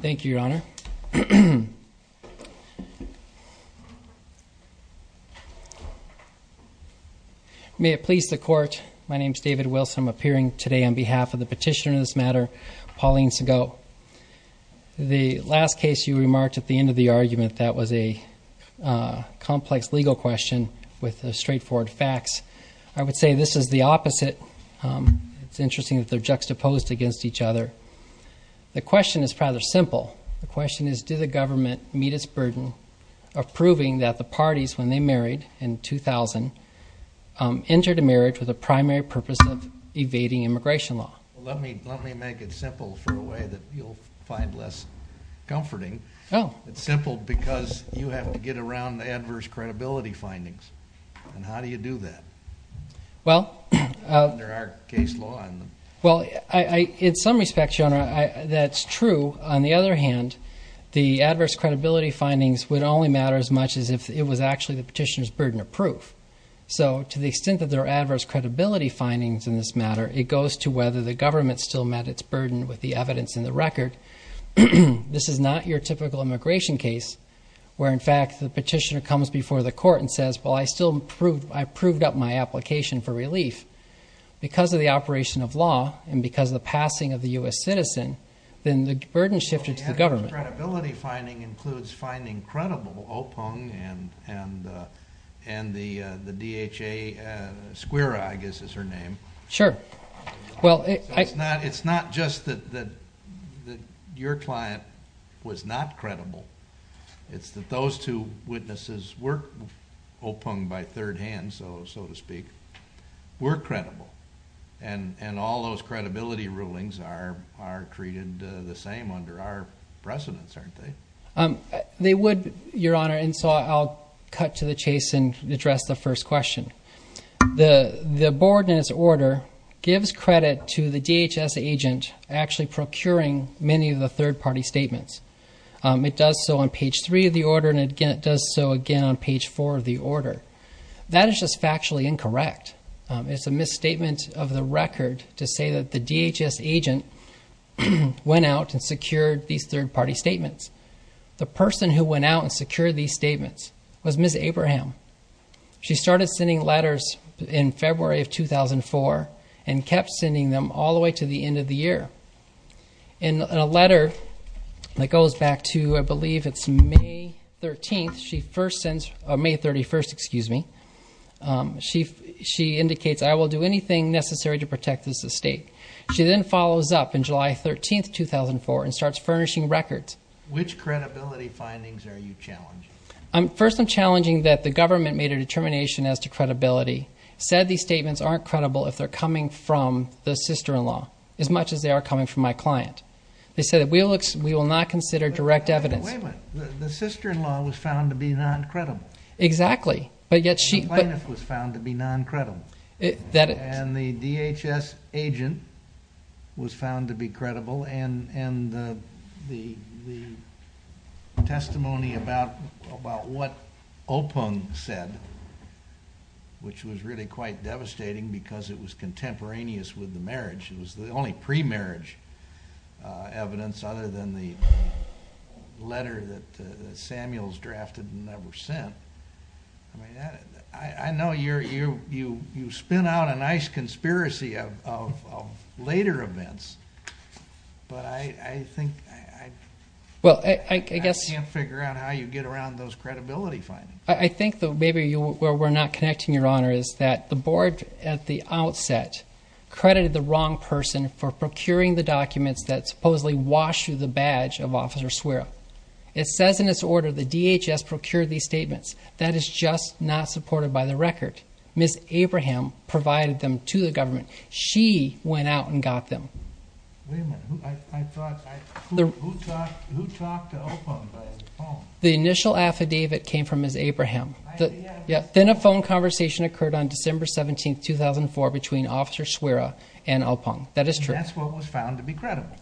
Thank you, Your Honor. May it please the Court, my name is David Wilson. I'm appearing today on behalf of the petitioner in this matter, Pauline Sagoe. The last case you remarked at the end of the argument, that was a complex legal question with straightforward facts. I would say this is the opposite. It's interesting that they're juxtaposed against each other. The question is rather simple. The question is, do the government meet its burden of proving that the parties, when they married in 2000, entered a marriage with a primary purpose of evading immigration law? Let me make it simple for a way that you'll find less comforting. It's simple because you have to get around the adverse credibility findings. And how do you do that? Well, in some respects, Your Honor, that's true. On the other hand, the adverse credibility findings would only matter as much as if it was actually the petitioner's burden of proof. So to the extent that there are adverse credibility findings in this matter, it goes to whether the government still met its burden with the evidence in the record. This is not your typical immigration case where, in fact, the petitioner comes before the court and says, well, I still proved up my application for relief. Because of the operation of law and because of the passing of the U.S. citizen, then the burden shifted to the government. So the adverse credibility finding includes finding credible Opong and the DHA, Squira, I guess is her name. Sure. It's not just that your client was not credible. It's that those two witnesses were Opong by third hand, so to speak, were credible. And all those credibility rulings are treated the same under our precedence, aren't they? They would, Your Honor, and so I'll cut to the chase and address the first question. The board in its order gives credit to the DHS agent actually procuring many of the third party statements. It does so on page three of the order, and it does so again on page four of the order. That is just factually incorrect. It's a misstatement of the record to say that the DHS agent went out and secured these third party statements. The person who went out and secured these statements was Ms. Abraham. She started sending letters in February of 2004 and kept sending them all the way to the end of the year. In a letter that goes back to, I believe it's May 31st, she indicates, I will do anything necessary to protect this estate. She then follows up on July 13th, 2004 and starts furnishing records. Which credibility findings are you challenging? First, I'm challenging that the government made a determination as to credibility, said these statements aren't credible if they're coming from the sister-in-law as much as they are coming from my client. They said that we will not consider direct evidence. Wait a minute. The sister-in-law was found to be non-credible. Exactly, but yet she. The plaintiff was found to be non-credible. The DHS agent was found to be credible and the testimony about what Opung said, which was really quite devastating because it was contemporaneous with the marriage. It was the only pre-marriage evidence other than the letter that Samuels drafted and never sent. I know you spin out a nice conspiracy of later events, but I think I can't figure out how you get around those credibility findings. I think maybe where we're not connecting, Your Honor, is that the board at the outset credited the wrong person for procuring the documents that supposedly washed through the badge of Officer Swera. It says in its order the DHS procured these statements. That is just not supported by the record. Ms. Abraham provided them to the government. She went out and got them. Wait a minute. Who talked to Opung by phone? The initial affidavit came from Ms. Abraham. Then a phone conversation occurred on December 17, 2004, between Officer Swera and Opung. That is true. That's what was found to be credible.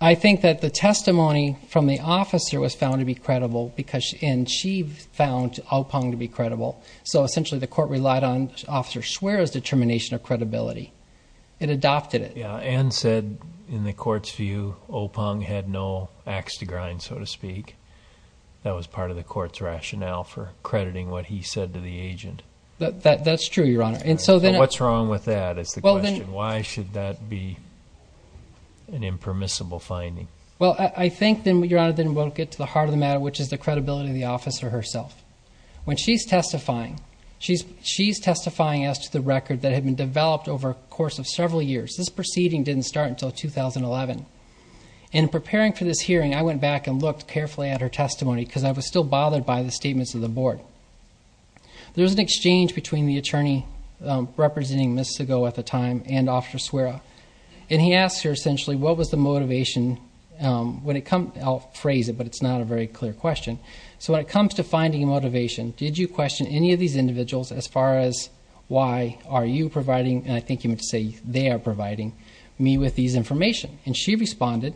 I think that the testimony from the officer was found to be credible, and she found Opung to be credible. So essentially the court relied on Officer Swera's determination of credibility. It adopted it. Anne said in the court's view Opung had no axe to grind, so to speak. That was part of the court's rationale for crediting what he said to the agent. That's true, Your Honor. What's wrong with that is the question. Why should that be an impermissible finding? Well, I think, Your Honor, then we'll get to the heart of the matter, which is the credibility of the officer herself. When she's testifying, she's testifying as to the record that had been developed over the course of several years. This proceeding didn't start until 2011. In preparing for this hearing, I went back and looked carefully at her testimony because I was still bothered by the statements of the board. There was an exchange between the attorney representing Ms. Segoe at the time and Officer Swera, and he asked her essentially what was the motivation when it comes to finding motivation. Did you question any of these individuals as far as why are you providing, and I think he meant to say they are providing, me with these information? And she responded,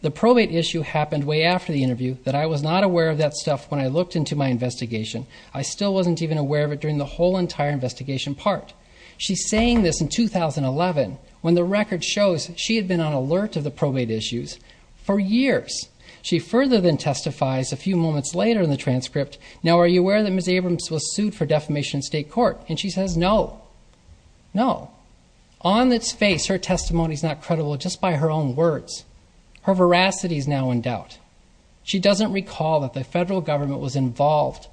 the probate issue happened way after the interview, that I was not aware of that stuff when I looked into my investigation. I still wasn't even aware of it during the whole entire investigation part. She's saying this in 2011 when the record shows she had been on alert of the probate issues for years. She further then testifies a few moments later in the transcript, now are you aware that Ms. Abrams was sued for defamation in state court? And she says no, no. On its face, her testimony is not credible just by her own words. Her veracity is now in doubt. She doesn't recall that the federal government was involved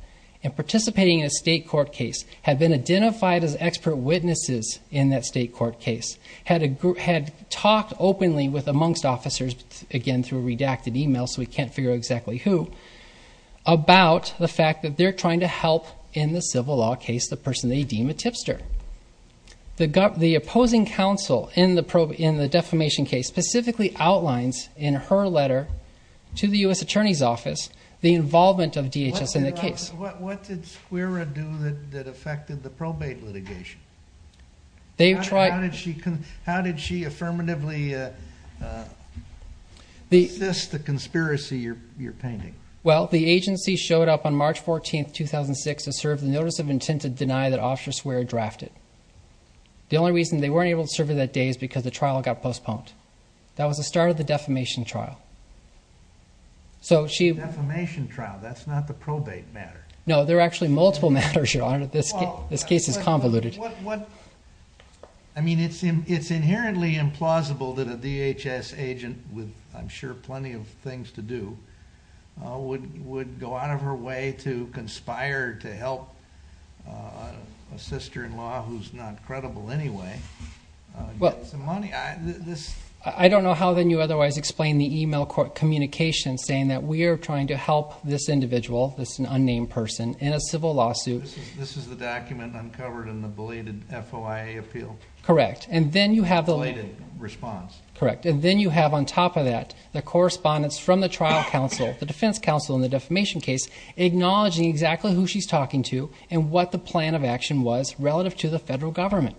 in participating in a state court case, had been identified as expert witnesses in that state court case, had talked openly with amongst officers, again through redacted email so we can't figure out exactly who, about the fact that they're trying to help in the civil law case the person they deem a tipster. The opposing counsel in the defamation case specifically outlines in her letter to the U.S. Attorney's Office the involvement of DHS in the case. What did Swera do that affected the probate litigation? How did she affirmatively assist the conspiracy you're painting? Well, the agency showed up on March 14, 2006 to serve the notice of intent to deny that Officer Swera drafted. The only reason they weren't able to serve her that day is because the trial got postponed. That was the start of the defamation trial. Defamation trial, that's not the probate matter. No, there are actually multiple matters, Your Honor. This case is convoluted. I mean, it's inherently implausible that a DHS agent with, I'm sure, plenty of things to do, would go out of her way to conspire to help a sister-in-law who's not credible anyway get some money. I don't know how then you otherwise explain the email communication saying that we are trying to help this individual, this unnamed person, in a civil lawsuit. This is the document uncovered in the belated FOIA appeal? Correct. And then you have the… Belated response. Correct. And then you have, on top of that, the correspondence from the trial counsel, the defense counsel in the defamation case acknowledging exactly who she's talking to and what the plan of action was relative to the federal government.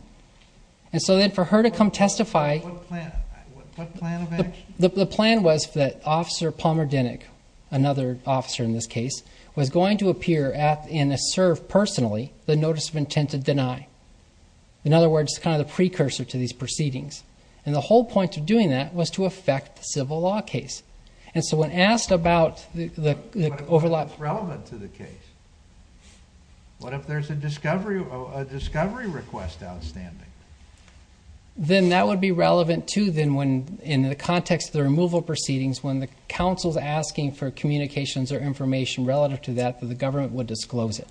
And so then for her to come testify… What plan of action? The plan was that Officer Palmer Dinnick, another officer in this case, was going to appear and assert personally the notice of intent to deny. In other words, kind of the precursor to these proceedings. And the whole point of doing that was to affect the civil law case. And so when asked about the overlap… What if it's relevant to the case? What if there's a discovery request outstanding? Then that would be relevant too then in the context of the removal proceedings when the counsel's asking for communications or information relative to that that the government would disclose it.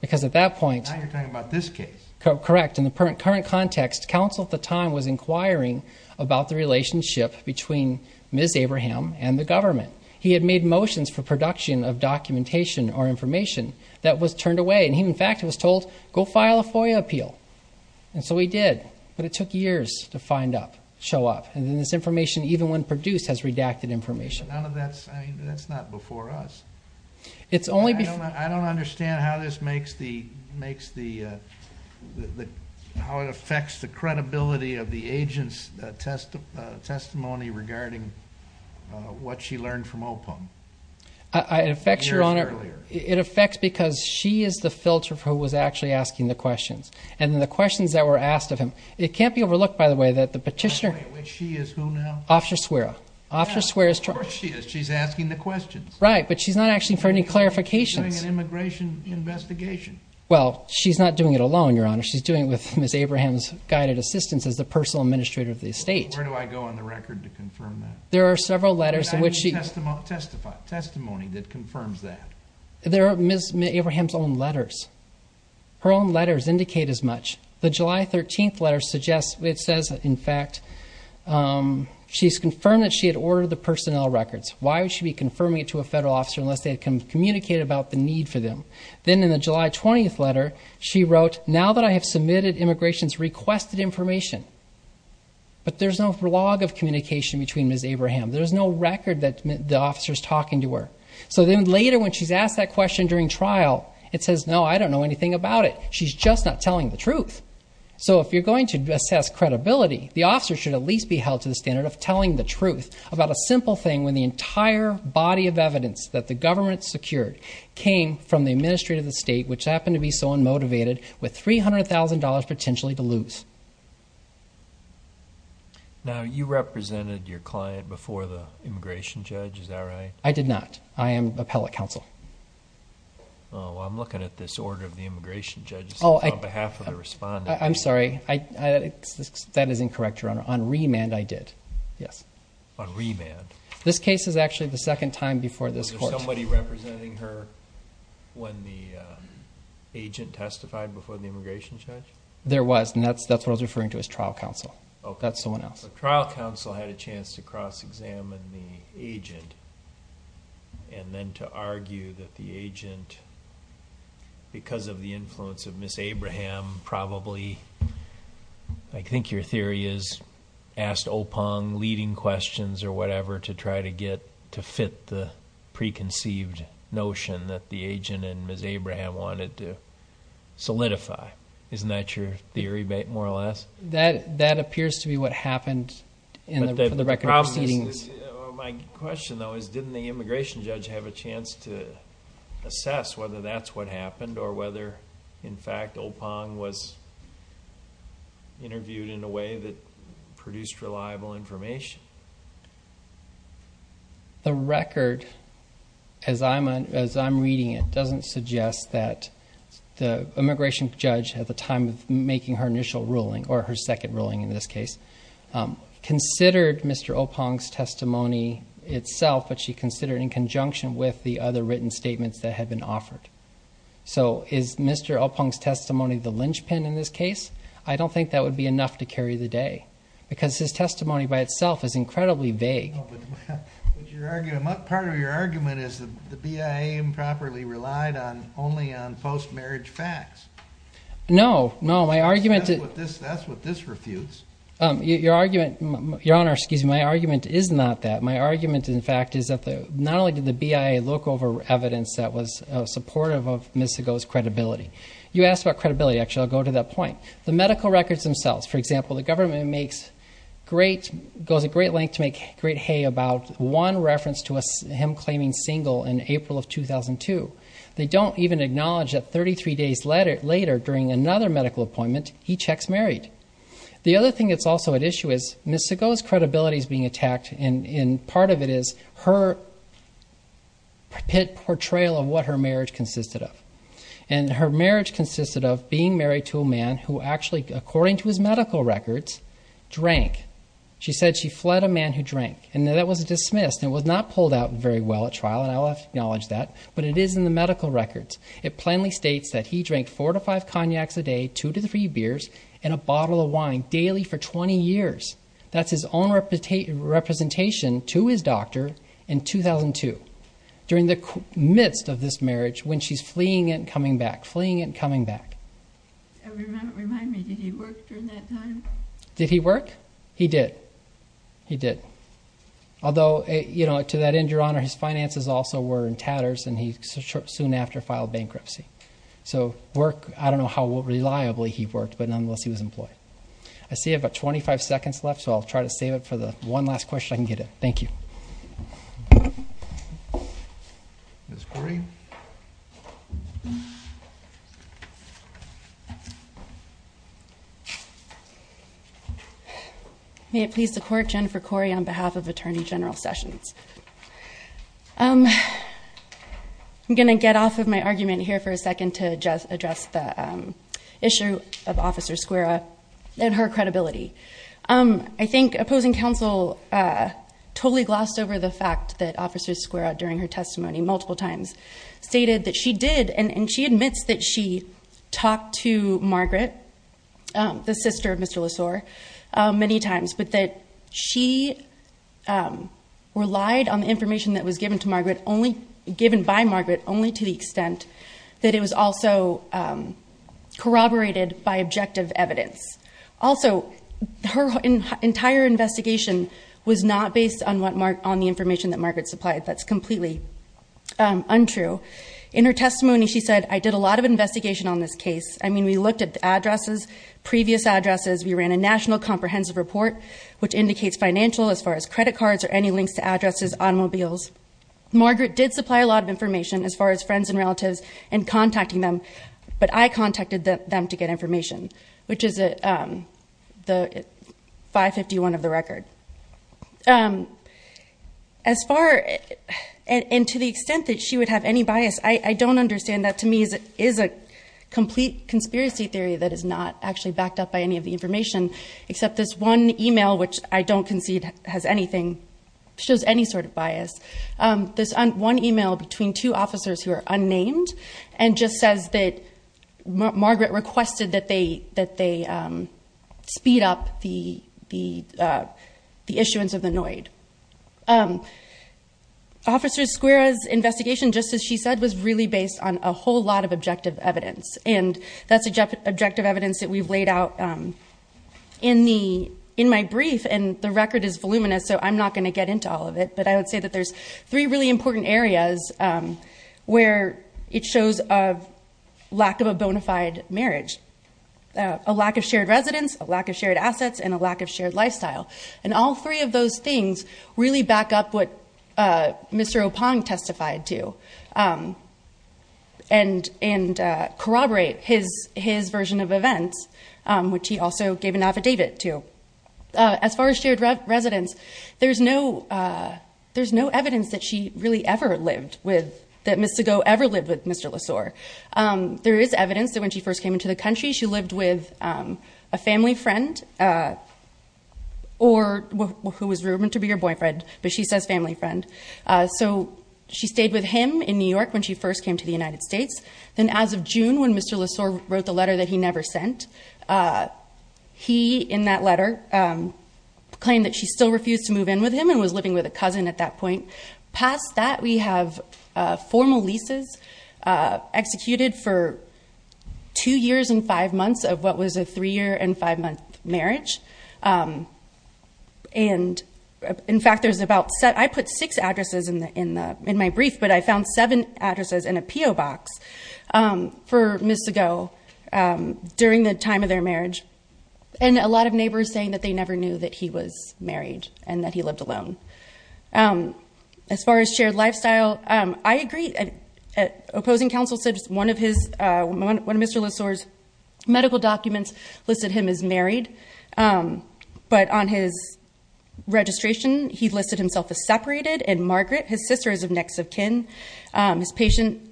Because at that point… Now you're talking about this case. Correct. In the current context, counsel at the time was inquiring about the relationship between Ms. Abraham and the government. He had made motions for production of documentation or information that was turned away. And he, in fact, was told, go file a FOIA appeal. And so he did. But it took years to find up, show up. And then this information, even when produced, has redacted information. That's not before us. I don't understand how it affects the credibility of the agent's testimony regarding what she learned from OPUM years earlier. It affects because she is the filter who was actually asking the questions. And then the questions that were asked of him… It can't be overlooked, by the way, that the petitioner… By the way, which she is who now? Officer Suera. Officer Suera. Of course she is. She's asking the questions. Right. But she's not asking for any clarifications. She's doing an immigration investigation. Well, she's not doing it alone, Your Honor. She's doing it with Ms. Abraham's guided assistance as the personal administrator of the estate. Where do I go on the record to confirm that? There are several letters in which she… Testify. Testimony that confirms that. There are Ms. Abraham's own letters. Her own letters indicate as much. The July 13th letter suggests… It says, in fact, she's confirmed that she had ordered the personnel records. Why would she be confirming it to a federal officer unless they had communicated about the need for them? Then in the July 20th letter, she wrote, now that I have submitted immigration's requested information, but there's no log of communication between Ms. Abraham. There's no record that the officer is talking to her. So then later when she's asked that question during trial, it says, no, I don't know anything about it. She's just not telling the truth. So if you're going to assess credibility, the officer should at least be held to the standard of telling the truth about a simple thing when the entire body of evidence that the government secured came from the administrator of the estate, which happened to be so unmotivated, with $300,000 potentially to lose. Now, you represented your client before the immigration judge, is that right? I did not. I am appellate counsel. I'm looking at this order of the immigration judge on behalf of the respondent. I'm sorry. That is incorrect, Your Honor. On remand, I did. On remand? This case is actually the second time before this court. Was there somebody representing her when the agent testified before the immigration judge? There was, and that's what I was referring to as trial counsel. That's someone else. So trial counsel had a chance to cross-examine the agent and then to argue that the agent, because of the influence of Ms. Abraham, probably, I think your theory is, asked Opong leading questions or whatever to try to fit the preconceived notion that the agent and Ms. Abraham wanted to solidify. Isn't that your theory more or less? That appears to be what happened in the record of proceedings. My question though is, didn't the immigration judge have a chance to assess whether that's what happened or whether, in fact, Opong was interviewed in a way that produced reliable information? The record, as I'm reading it, doesn't suggest that the immigration judge at the time of making her initial ruling, or her second ruling in this case, considered Mr. Opong's testimony itself, but she considered it in conjunction with the other written statements that had been offered. So is Mr. Opong's testimony the linchpin in this case? I don't think that would be enough to carry the day because his testimony by itself is incredibly vague. Part of your argument is the BIA improperly relied only on post-marriage facts. No, no, my argument is... That's what this refutes. Your Honor, excuse me, my argument is not that. My argument, in fact, is that not only did the BIA look over evidence that was supportive of Ms. Segoe's credibility. You asked about credibility. Actually, I'll go to that point. The medical records themselves, for example, the government goes a great length to make great hay about one reference to him claiming single in April of 2002. They don't even acknowledge that 33 days later, during another medical appointment, he checks married. The other thing that's also at issue is Ms. Segoe's credibility is being attacked, and part of it is her portrayal of what her marriage consisted of. And her marriage consisted of being married to a man who actually, according to his medical records, drank. She said she fled a man who drank, and that was dismissed. It was not pulled out very well at trial, and I'll have to acknowledge that, but it is in the medical records. It plainly states that he drank 4 to 5 cognacs a day, 2 to 3 beers, and a bottle of wine daily for 20 years. That's his own representation to his doctor in 2002. During the midst of this marriage, when she's fleeing and coming back, fleeing and coming back. Remind me, did he work during that time? Did he work? He did. He did. Although, to that end, Your Honor, his finances also were in tatters, and he soon after filed bankruptcy. So work, I don't know how reliably he worked, but nonetheless he was employed. I see I have about 25 seconds left, so I'll try to save it for the one last question I can get at. Thank you. Ms. Kory. May it please the Court, Jennifer Kory on behalf of Attorney General Sessions. I'm going to get off of my argument here for a second to address the issue of Officer Skwera and her credibility. I think opposing counsel totally glossed over the fact that Officer Skwera, during her testimony multiple times, stated that she did, and she admits that she talked to Margaret, the sister of Mr. Lessor, many times, but that she relied on the information that was given to Margaret, given by Margaret, only to the extent that it was also corroborated by objective evidence. Also, her entire investigation was not based on the information that Margaret supplied. That's completely untrue. In her testimony, she said, I did a lot of investigation on this case. I mean, we looked at addresses, previous addresses. We ran a national comprehensive report, which indicates financial, as far as credit cards, or any links to addresses, automobiles. Margaret did supply a lot of information, as far as friends and relatives, and contacting them, but I contacted them to get information, which is the 551 of the record. As far, and to the extent that she would have any bias, I don't understand that to me is a complete conspiracy theory that is not actually backed up by any of the information, except this one email, which I don't concede has anything, shows any sort of bias. This one email between two officers, who are unnamed, and just says that Margaret requested that they speed up the issuance of the NOID. Officer Squira's investigation, just as she said, was really based on a whole lot of objective evidence, and that's objective evidence that we've laid out in my brief, and the record is voluminous, so I'm not going to get into all of it, but I would say that there's three really important areas where it shows a lack of a bona fide marriage. A lack of shared residence, a lack of shared assets, and a lack of shared lifestyle. And all three of those things really back up what Mr. Oppong testified to, and corroborate his version of events, which he also gave an affidavit to. As far as shared residence, there's no evidence that she really ever lived with, that Ms. Segoe ever lived with Mr. Lessor. There is evidence that when she first came into the country, she lived with a family friend, or who was rumored to be her boyfriend, but she says family friend. So she stayed with him in New York when she first came to the United States. Then as of June, when Mr. Lessor wrote the letter that he never sent, he, in that letter, claimed that she still refused to move in with him, and was living with a cousin at that point. Past that, we have formal leases executed for two years and five months of what was a three-year and five-month marriage. I put six addresses in my brief, but I found seven addresses in a P.O. box for Ms. Segoe during the time of their marriage, and a lot of neighbors saying that they never knew that he was married and that he lived alone. As far as shared lifestyle, I agree. Opposing counsel said one of Mr. Lessor's medical documents listed him as married, but on his registration, he listed himself as separated, and Margaret, his sister, is of next of kin. In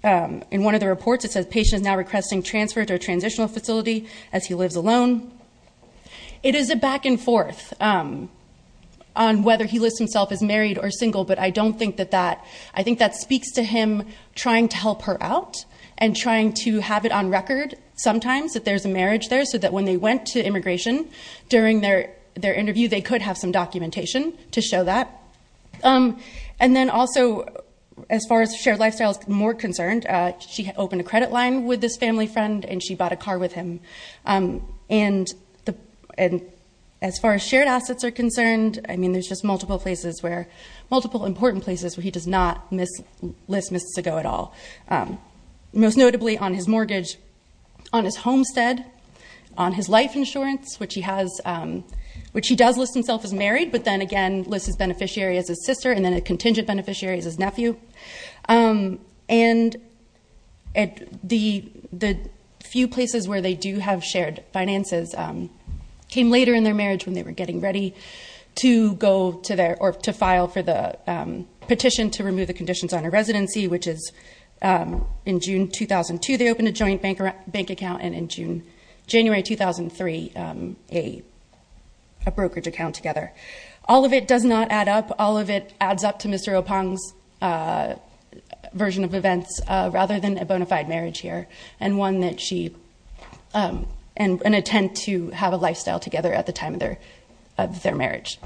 one of the reports, it says, patient is now requesting transfer to a transitional facility as he lives alone. It is a back and forth on whether he lists himself as married or single, but I think that speaks to him trying to help her out, and trying to have it on record sometimes that there's a marriage there, so that when they went to immigration during their interview, they could have some documentation to show that. Then also, as far as shared lifestyle is more concerned, she opened a credit line with this family friend, and she bought a car with him. As far as shared assets are concerned, there's just multiple important places where he does not list Ms. Segoe at all. Most notably, on his mortgage, on his homestead, on his life insurance, which he does list himself as married, but then again, lists his beneficiary as his sister, and then a contingent beneficiary as his nephew. The few places where they do have shared finances came later in their marriage when they were getting ready to file for the petition to remove the conditions on a residency, which is in June 2002, they opened a joint bank account, and in January 2003, a brokerage account together. All of it does not add up. All of it adds up to Mr. Opong's version of events, rather than a bona fide marriage here, and an attempt to have a lifestyle together at the time of their marriage.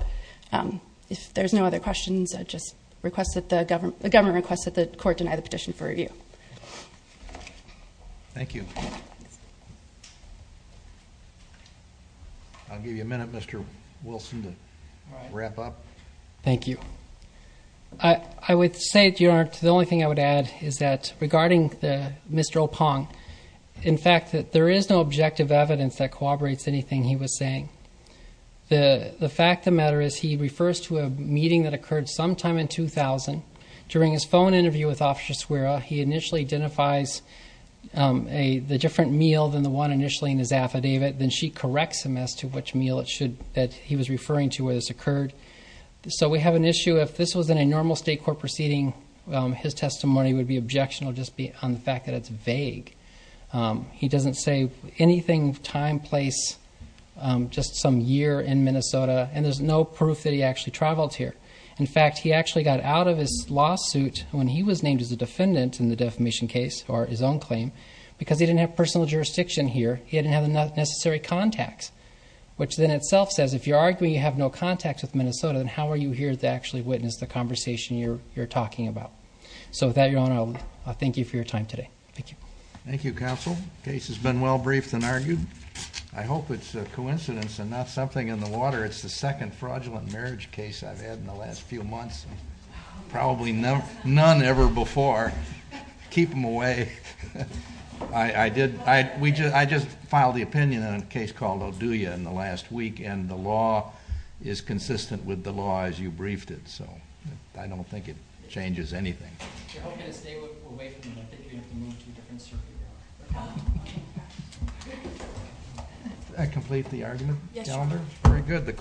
If there's no other questions, I just request that the government request that the court deny the petition for review. Thank you. I'll give you a minute, Mr. Wilson. Wrap up. Thank you. I would say, Your Honor, the only thing I would add is that regarding Mr. Opong, in fact, there is no objective evidence that corroborates anything he was saying. The fact of the matter is he refers to a meeting that occurred sometime in 2000. During his phone interview with Officer Swera, he initially identifies the different meal than the one initially in his affidavit, then she corrects him as to which meal he was referring to where this occurred. So we have an issue. If this was in a normal state court proceeding, his testimony would be objectionable just on the fact that it's vague. He doesn't say anything, time, place, just some year in Minnesota, and there's no proof that he actually traveled here. In fact, he actually got out of his lawsuit when he was named as a defendant in the defamation case, or his own claim, because he didn't have personal jurisdiction here. He didn't have the necessary contacts, which then itself says, if you're arguing you have no contacts with Minnesota, then how are you here to actually witness the conversation you're talking about? So with that, Your Honor, I'll thank you for your time today. Thank you. Thank you, Counsel. The case has been well briefed and argued. I hope it's a coincidence and not something in the water. It's the second fraudulent marriage case I've had in the last few months, probably none ever before. Keep them away. I did. I just filed the opinion on a case called Oduya in the last week, and the law is consistent with the law as you briefed it, so I don't think it changes anything. You're all going to stay away from me. I think you're going to have to move to a different circuit now. Did I complete the argument? Yes, Your Honor. Very good.